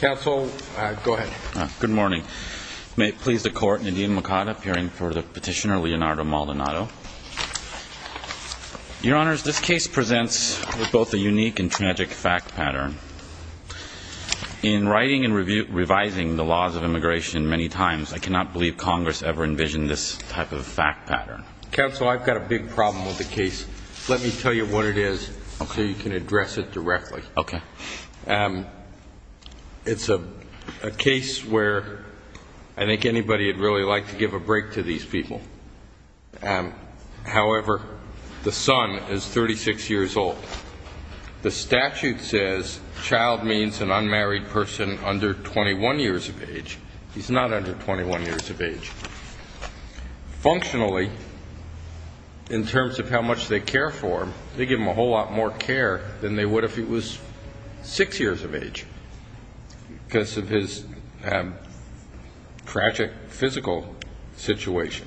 Counsel, go ahead. Good morning. May it please the court, Nadim Makada, appearing for the petitioner, Leonardo Maldonado. Your Honors, this case presents with both a unique and tragic fact pattern. In writing and revising the laws of immigration many times, I cannot believe Congress ever envisioned this type of fact pattern. Counsel, I've got a big problem with the case. Let me tell you what it is, so you can address it directly. Okay. It's a case where I think anybody would really like to give a break to these people. However, the son is 36 years old. The statute says child means an unmarried person under 21 years of age. He's not under 21 years of age. Functionally, in terms of how much they care for him, they give him a whole lot more care than they would if he was six years of age because of his tragic physical situation.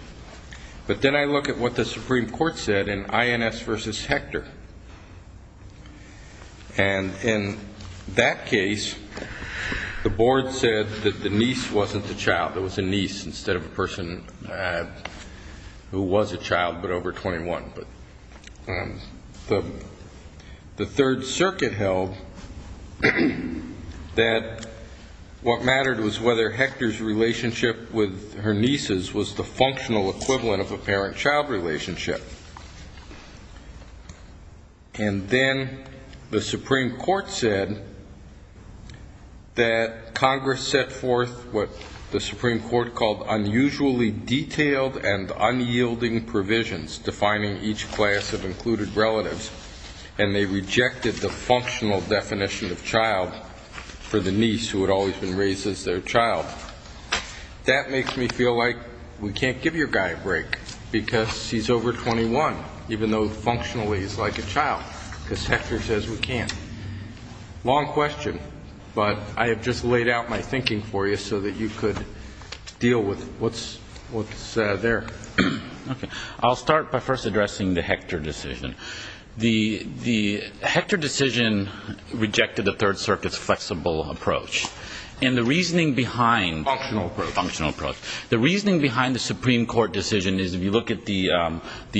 But then I look at what the Supreme Court said in INS v. Hector. And in that case, the board said that the niece wasn't the child. There was a niece instead of a person who was a child but over 21. But the Third Circuit held that what mattered was whether Hector's relationship with her nieces was the functional equivalent of a parent-child relationship. And then the Supreme Court said that Congress set forth what the Supreme Court called unusually detailed and unyielding provisions defining each class of and they rejected the functional definition of child for the niece who had always been raised as their child. That makes me feel like we can't give your guy a break because he's over 21, even though functionally he's like a child because Hector says we can't. Long question, but I have just laid out my thinking for you so that you could deal with it. What's there? I'll start by first addressing the Hector decision. The Hector decision rejected the Third Circuit's flexible approach. And the reasoning behind functional approach, the reasoning behind the Supreme Court decision is if you look at the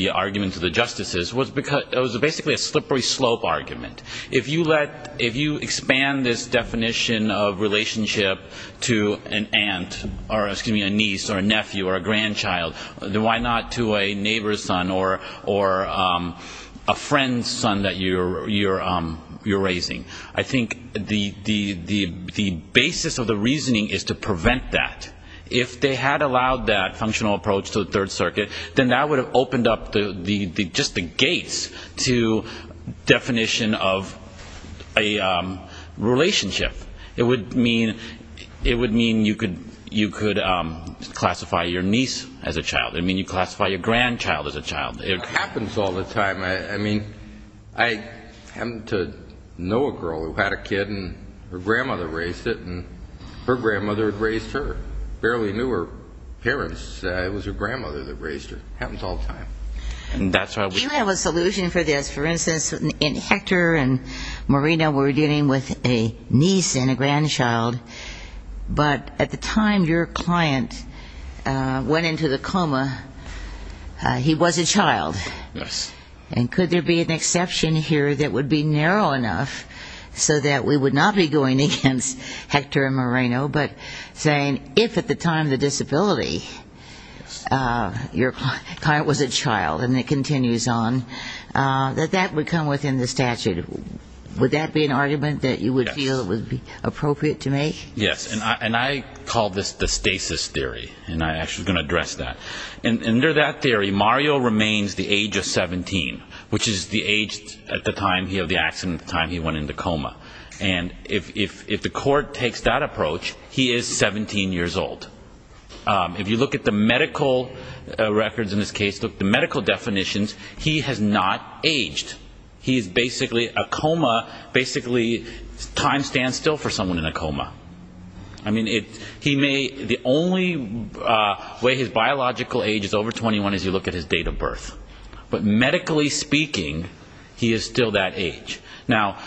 arguments of the justices, it was basically a slippery slope argument. If you expand this definition of relationship to an aunt, or excuse me, a niece or a nephew or a grandchild, then why not to a neighbor's son or a friend's son that you're raising? I think the basis of the reasoning is to prevent that. If they had allowed that functional approach to the Third Circuit, then that would have opened up just the gates to definition of a relationship. It would mean you could classify your niece as a child. It would mean you classify your grandchild as a child. It happens all the time. I mean, I happen to know a girl who had a kid, and her grandmother raised it, and her grandmother raised her. Barely knew her parents. It was her grandmother that raised her. Happens all the time. And that's why we have a solution for this. For instance, in Hector and Moreno, we're dealing with a niece and a grandchild. But at the time your client went into the coma, he was a child. And could there be an exception here that would be narrow enough so that we would not be going against Hector and Moreno, but saying if at the time of the disability, your grandchild, and it continues on, that that would come within the statute? Would that be an argument that you would feel would be appropriate to make? Yes. And I call this the stasis theory. And I'm actually going to address that. Under that theory, Mario remains the age of 17, which is the age at the time of the accident, the time he went into coma. And if the court takes that approach, he is 17 years old. If you look at the medical records in this case, the medical definitions, he has not aged. He's basically a coma, basically time stands still for someone in a coma. I mean, he may, the only way his biological age is over 21 is you look at his date of birth. But medically speaking, he is still that age. Now,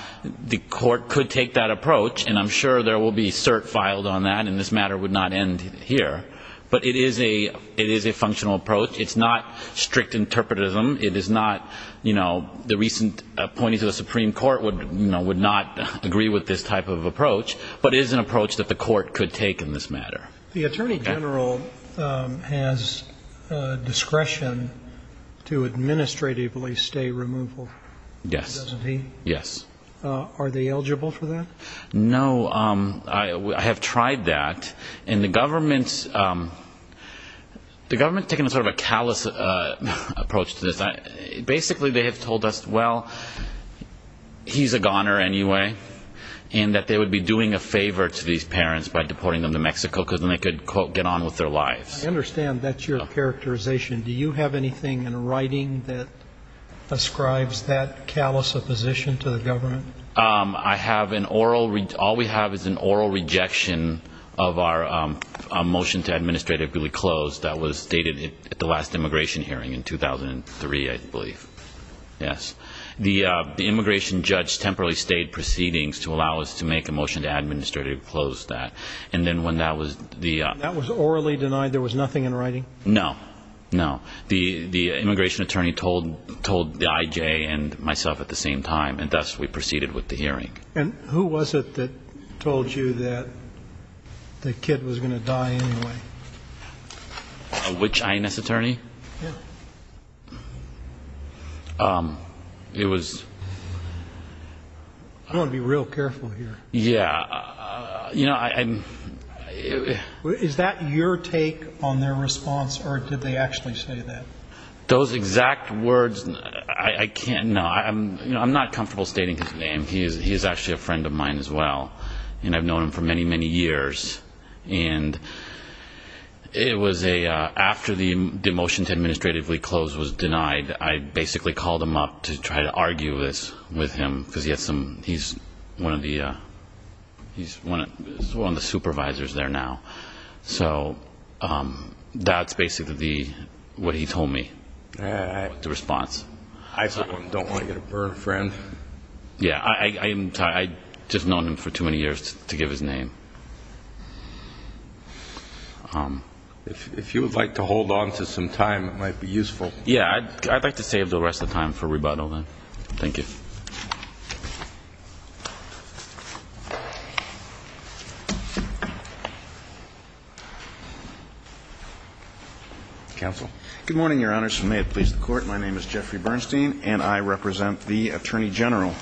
the court could take that approach, and I'm sure there will be cert filed on that, and this matter would not end here. But it is a functional approach. It's not strict interpretatism. It is not, you know, the recent appointees of the Supreme Court would not agree with this type of approach, but it is an approach that the court could take in this matter. The Attorney General has discretion to administratively stay removal. Yes. Doesn't he? Yes. Are they eligible for that? No. I have tried that. And the government, the government has taken sort of a callous approach to this. Basically they have told us, well, he's a goner anyway, and that they would be doing a favor to these parents by deporting them to Mexico because then they could, quote, get on with their lives. I understand that's your characterization. Do you have anything in writing that ascribes that callous opposition to the government? I have an oral, all we have is an oral rejection of our motion to administratively close that was stated at the last immigration hearing in 2003, I believe. Yes. The immigration judge temporarily stayed proceedings to allow us to make a motion to administratively close that. And then when that was the That was orally denied? There was nothing in writing? No. No. The immigration attorney told the I.J. and myself at the same time, and thus we proceeded with the hearing. And who was it that told you that the kid was going to die anyway? Which I.N.S. attorney? Yeah. It was I want to be real careful here. Yeah. You know, I'm Is that your take on their response, or did they actually say that? Those exact words, I can't, no, I'm not comfortable stating his name. He is actually a friend of mine as well. And I've known him for many, many years. And it was a, after the motion to administratively close was denied, I basically called him up to try to argue this with him, because he has some, he's one of the, he's one of the supervisors there now. So that's basically what he told me, the response. I don't want to get a burn, friend. Yeah. I just have known him for too many years to give his name. If you would like to hold on to some time, it might be useful. Yeah. I'd like to save the rest of the time for rebuttal, then. Thank you. Counsel. Good morning, Your Honor. May it please the Court. My name is Jeffrey Bernstein, and I represent the Attorney General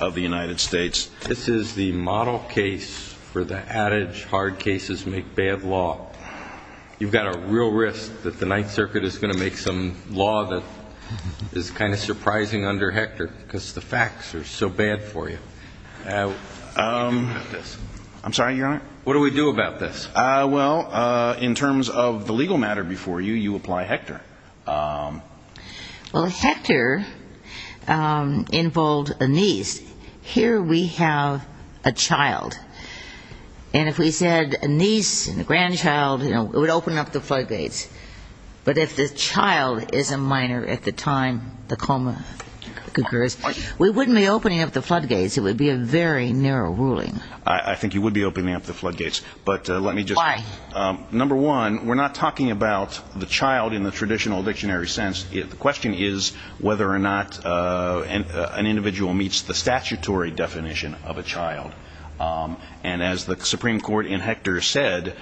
of the United States. This is the model case for the adage, hard cases make bad law. You've got a real risk that the Ninth Circuit is going to make some law that is kind of surprising under Hector, because the facts are so bad for you. What do we do about this? I'm sorry, Your Honor? What do we do about this? Well, in terms of the legal matter before you, you apply Hector. Well, Hector involved a niece. Here we have a child. And if we said a niece and a grandchild, it would open up the floodgates. But if the child is a minor at the time the coma occurs, we wouldn't be opening up the floodgates. It would be a very narrow ruling. I think you would be opening up the floodgates. Why? Number one, we're not talking about the child in the traditional dictionary sense. The question is whether or not an individual meets the statutory definition of a child. And as the Supreme Court in Hector said,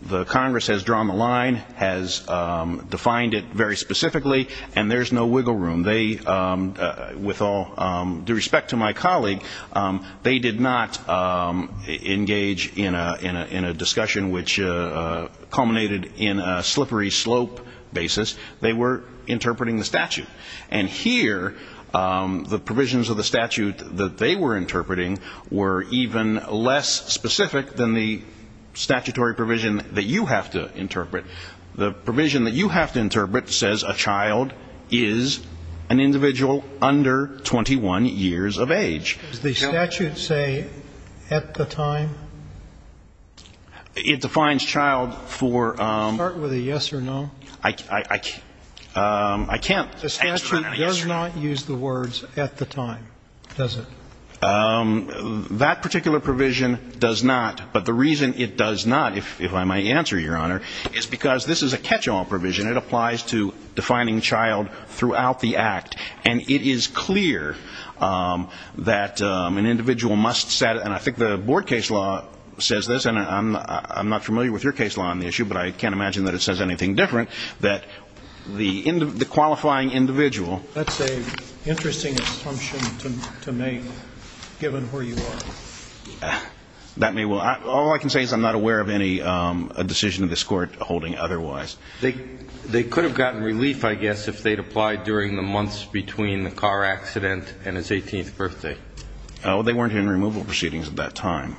the Congress has drawn the line, has defined it very specifically, and there's no wiggle room. With all due respect to my colleague, they did not engage in a discussion which culminated in a slippery slope basis. They were interpreting the statute. And here the provisions of the statute that they were interpreting were even less specific than the statutory provision that you have to interpret. The provision that you have to interpret says a child is an individual under 21 years of age. Does the statute say at the time? It defines child for ‑‑ Start with a yes or no. I can't answer that in a yes or no. The statute does not use the words at the time, does it? That particular provision does not. But the reason it does not, if I may answer, Your Honor, is because this is a catch‑all provision. It applies to defining child throughout the act. And it is clear that an individual must set ‑‑ and I think the board case law says this, and I'm not familiar with your case law on the issue, but I can't imagine that it says anything different, that the qualifying individual ‑‑ That's an interesting assumption to make given where you are. That may well ‑‑ all I can say is I'm not aware of any decision of this Court holding otherwise. They could have gotten relief, I guess, if they had applied during the months between the car accident and his 18th birthday. They weren't in removal proceedings at that time.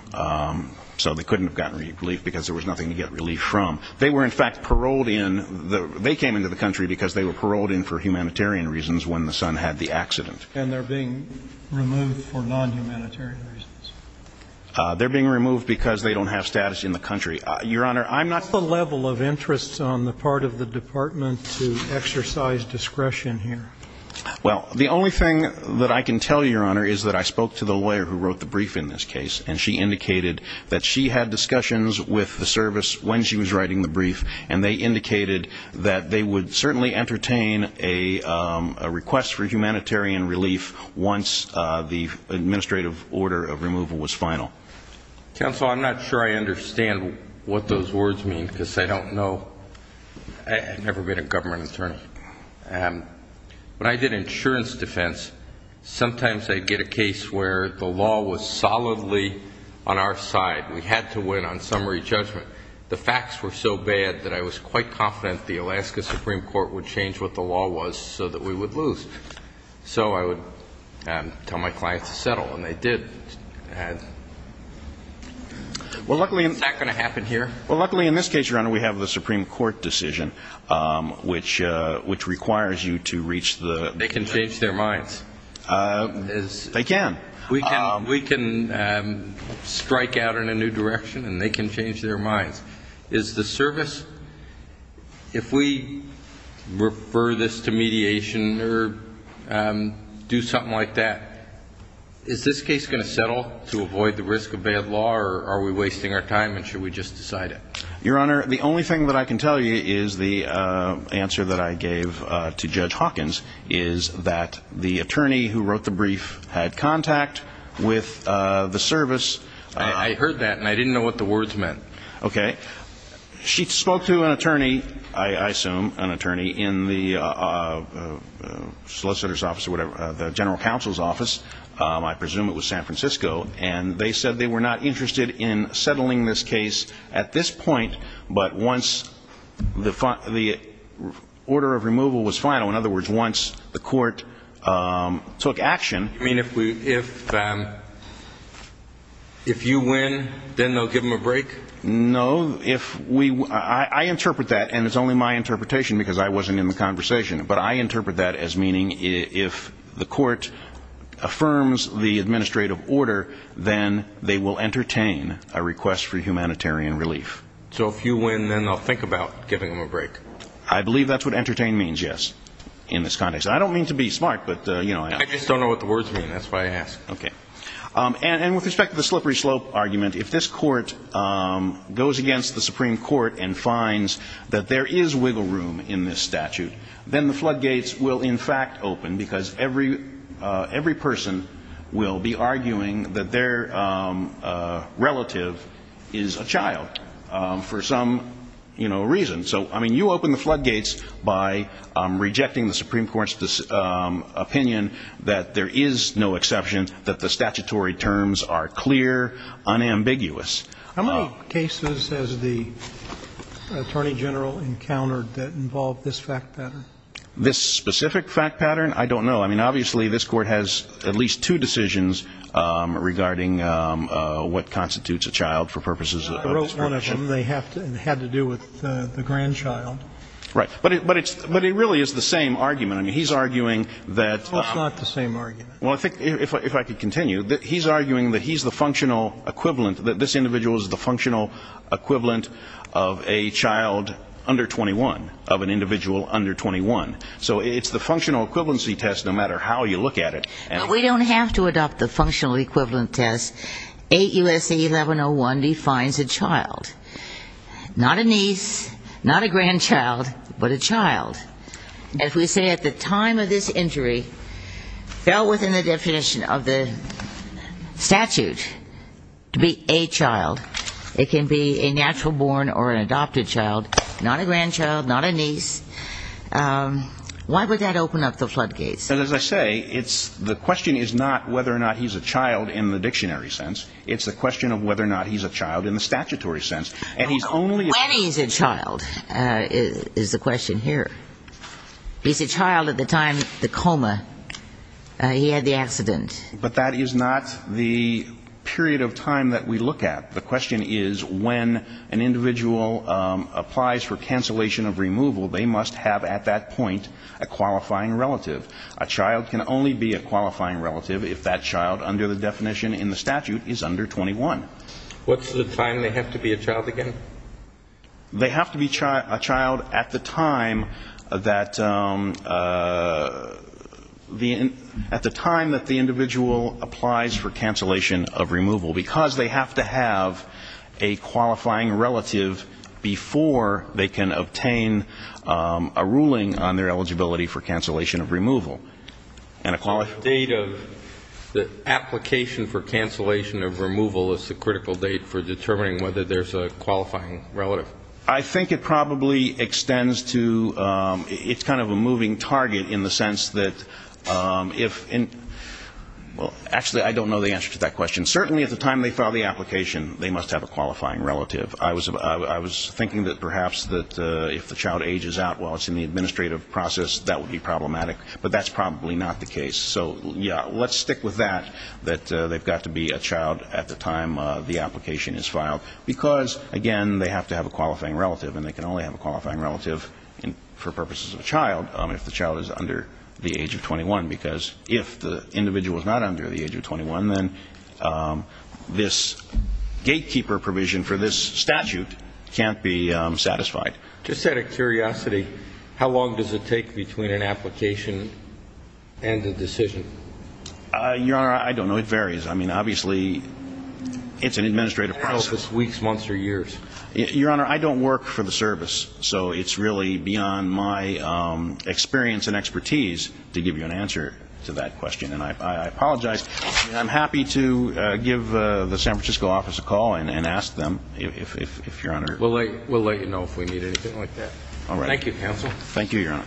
So they couldn't have gotten relief because there was nothing to get relief from. They were, in fact, paroled in. They came into the country because they were paroled in for humanitarian reasons when the son had the accident. And they're being removed for non‑humanitarian reasons. They're being removed because they don't have status in the country. Your Honor, I'm not ‑‑ What's the level of interest on the part of the department to exercise discretion here? Well, the only thing that I can tell you, Your Honor, is that I spoke to the lawyer who wrote the brief in this case, and she indicated that she had discussions with the service when she was writing the brief, and they indicated that they would certainly entertain a request for humanitarian relief once the administrative order of removal was final. Counsel, I'm not sure I understand what those words mean because I don't know. I've never been a government attorney. When I did insurance defense, sometimes I'd get a case where the law was solidly on our side. We had to win on summary judgment. The facts were so bad that I was quite confident the Alaska Supreme Court would change what the law was so that we would lose. So I would tell my clients to settle, and they did. Is that going to happen here? Well, luckily in this case, Your Honor, we have the Supreme Court decision, which requires you to reach the ‑‑ They can change their minds. They can. We can strike out in a new direction, and they can change their minds. Is the service, if we refer this to mediation or do something like that, is this case going to settle to avoid the risk of bad law, or are we wasting our time, and should we just decide it? Your Honor, the only thing that I can tell you is the answer that I gave to Judge Hawkins is that the attorney who wrote the brief had contact with the service. I heard that, and I didn't know what the words meant. Okay. She spoke to an attorney, I assume an attorney, in the solicitor's office or whatever, the general counsel's office, I presume it was San Francisco, and they said they were not interested in settling this case at this point, but once the order of removal was final, in other words, once the court took action. You mean if you win, then they'll give them a break? No. I interpret that, and it's only my interpretation because I wasn't in the conversation, but I interpret that as meaning if the court affirms the administrative order, then they will entertain a request for humanitarian relief. So if you win, then they'll think about giving them a break? I believe that's what entertain means, yes, in this context. I don't mean to be smart, but, you know. I just don't know what the words mean. That's why I ask. Okay. And with respect to the slippery slope argument, if this court goes against the Supreme Court and finds that there is wiggle room in this statute, then the floodgates will in fact open because every person will be arguing that their relative is a child for some reason. So, I mean, you open the floodgates by rejecting the Supreme Court's opinion that there is no exception, that the statutory terms are clear, unambiguous. How many cases has the Attorney General encountered that involved this fact pattern? This specific fact pattern? I don't know. I mean, obviously, this court has at least two decisions regarding what constitutes a child for purposes of discretion. I wrote one of them. It had to do with the grandchild. Right. But it really is the same argument. I mean, he's arguing that. No, it's not the same argument. Well, I think, if I could continue, he's arguing that he's the functional equivalent, that this individual is the functional equivalent of a child under 21, of an individual under 21. So it's the functional equivalency test, no matter how you look at it. But we don't have to adopt the functional equivalent test. 8 U.S.A. 1101 defines a child. Not a niece, not a grandchild, but a child. If we say at the time of this injury fell within the definition of the statute to be a child, it can be a natural born or an adopted child, not a grandchild, not a niece, why would that open up the floodgates? As I say, the question is not whether or not he's a child in the dictionary sense. It's the question of whether or not he's a child in the statutory sense. When he's a child is the question here. He's a child at the time of the coma. He had the accident. But that is not the period of time that we look at. The question is when an individual applies for cancellation of removal, they must have at that point a qualifying relative. A child can only be a qualifying relative if that child under the definition in the statute is under 21. What's the time they have to be a child again? They have to be a child at the time that the individual applies for cancellation of removal, because they have to have a qualifying relative before they can obtain a ruling on their eligibility for cancellation of removal. And a qualifying relative. The date of the application for cancellation of removal is the critical date for determining whether there's a qualifying relative. I think it probably extends to, it's kind of a moving target in the sense that if, actually I don't know the answer to that question. Certainly at the time they file the application, they must have a qualifying relative. I was thinking that perhaps if the child ages out while it's in the administrative process, that would be problematic. But that's probably not the case. So, yeah, let's stick with that, that they've got to be a child at the time the application is filed. Because, again, they have to have a qualifying relative, and they can only have a qualifying relative for purposes of a child if the child is under the age of 21. Because if the individual is not under the age of 21, then this gatekeeper provision for this statute can't be satisfied. Just out of curiosity, how long does it take between an application and a decision? Your Honor, I don't know. It varies. I mean, obviously, it's an administrative process. I don't know if it's weeks, months, or years. Your Honor, I don't work for the service. So it's really beyond my experience and expertise to give you an answer to that question. And I apologize. I'm happy to give the San Francisco office a call and ask them if, Your Honor. We'll let you know if we need anything like that. All right. Thank you, counsel. Thank you, Your Honor.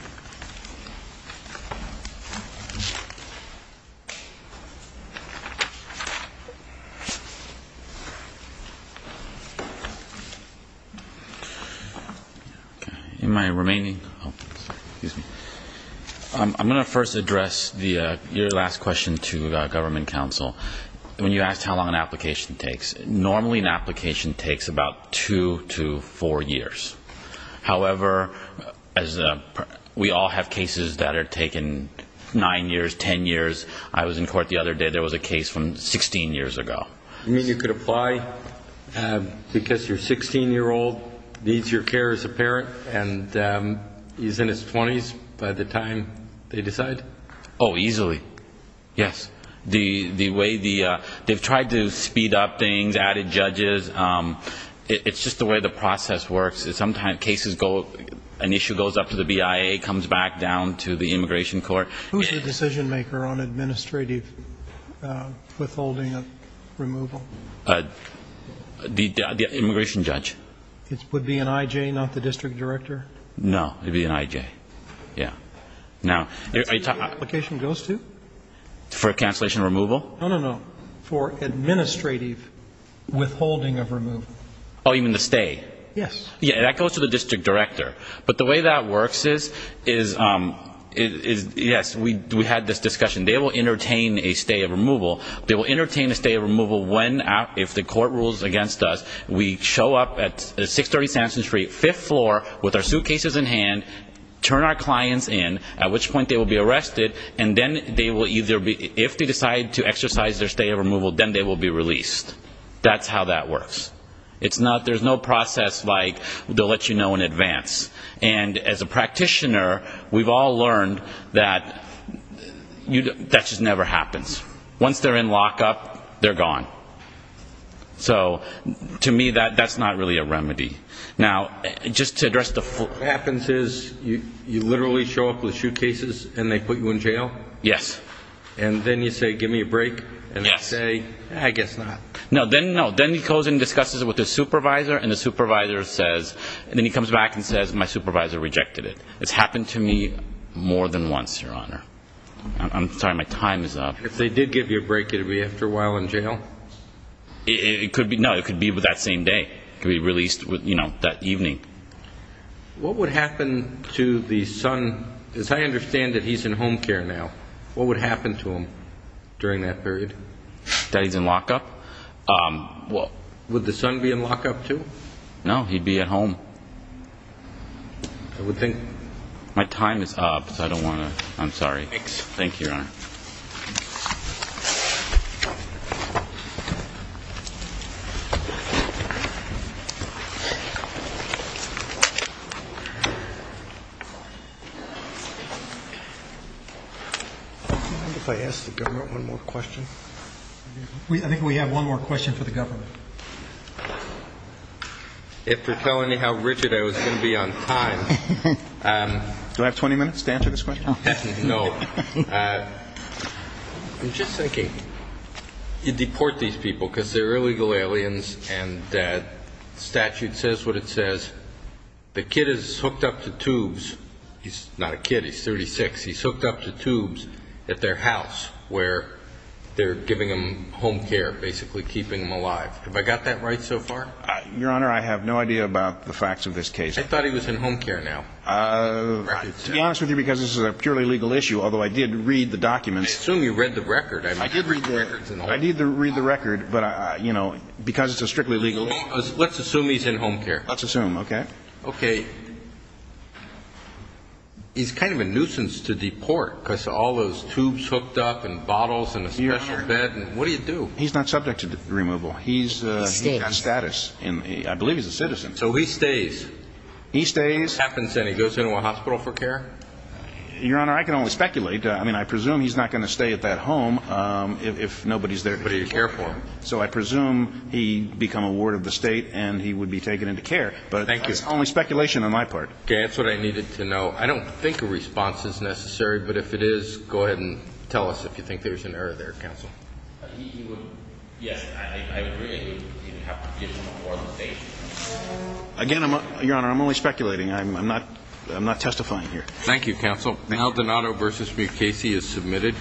In my remaining, excuse me. I'm going to first address your last question to government counsel. When you asked how long an application takes, normally an application takes about two to four years. However, we all have cases that are taken nine years, ten years. I was in court the other day. There was a case from 16 years ago. You mean you could apply because your 16-year-old needs your care as a parent and he's in his 20s by the time they decide? Oh, easily, yes. The way the they've tried to speed up things, added judges. It's just the way the process works. Sometimes cases go, an issue goes up to the BIA, comes back down to the immigration court. Who's the decision maker on administrative withholding of removal? The immigration judge. Would it be an IJ, not the district director? No, it would be an IJ, yeah. That's who the application goes to? For a cancellation removal? No, no, no. For administrative withholding of removal. Oh, you mean the stay? Yes. Yeah, that goes to the district director. But the way that works is, yes, we had this discussion. They will entertain a stay of removal. They will entertain a stay of removal when, if the court rules against us, we show up at 630 Sampson Street, fifth floor, with our suitcases in hand, turn our clients in, at which point they will be arrested, and then they will either be, if they decide to exercise their stay of removal, then they will be released. That's how that works. There's no process like they'll let you know in advance. And as a practitioner, we've all learned that that just never happens. Once they're in lockup, they're gone. So to me, that's not really a remedy. Now, just to address the full question. What happens is you literally show up with suitcases and they put you in jail? Yes. And then you say, give me a break, and they say, I guess not. No, then he goes and discusses it with his supervisor, and the supervisor says, and then he comes back and says, my supervisor rejected it. It's happened to me more than once, Your Honor. I'm sorry, my time is up. If they did give you a break, you'd be after a while in jail? No, it could be that same day. It could be released that evening. What would happen to the son? As I understand it, he's in home care now. What would happen to him during that period? That he's in lockup. Would the son be in lockup too? No, he'd be at home. I would think. My time is up, so I don't want to. Thanks. Thank you, Your Honor. Thank you. If I ask the government one more question. I think we have one more question for the government. If you're telling me how rigid I was going to be on time, do I have 20 minutes to answer this question? No. I'm just thinking, you deport these people because they're illegal aliens and the statute says what it says. The kid is hooked up to tubes. He's not a kid, he's 36. He's hooked up to tubes at their house where they're giving him home care, basically keeping him alive. Have I got that right so far? Your Honor, I have no idea about the facts of this case. I thought he was in home care now. To be honest with you, because this is a purely legal issue, although I did read the documents. I assume you read the record. I did read the records. I did read the record, but, you know, because it's a strictly legal issue. Let's assume he's in home care. Let's assume, okay. Okay. He's kind of a nuisance to deport because all those tubes hooked up and bottles and a special bed. What do you do? He's not subject to removal. He's status. I believe he's a citizen. So he stays. He stays. What happens then? He goes into a hospital for care? Your Honor, I can only speculate. I mean, I presume he's not going to stay at that home if nobody's there to take care of him. So I presume he'd become a ward of the state and he would be taken into care. Thank you. But it's only speculation on my part. Okay. That's what I needed to know. I don't think a response is necessary, but if it is, go ahead and tell us if you think there's an error there, Counsel. He would, yes, I agree. He would have to get an authorization. Again, Your Honor, I'm only speculating. I'm not testifying here. Thank you, Counsel. Maldonado v. Mukasey is submitted.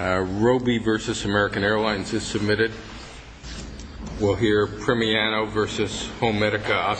Roby v. American Airlines is submitted. We'll hear Premiano v. Homemedica Osteonics.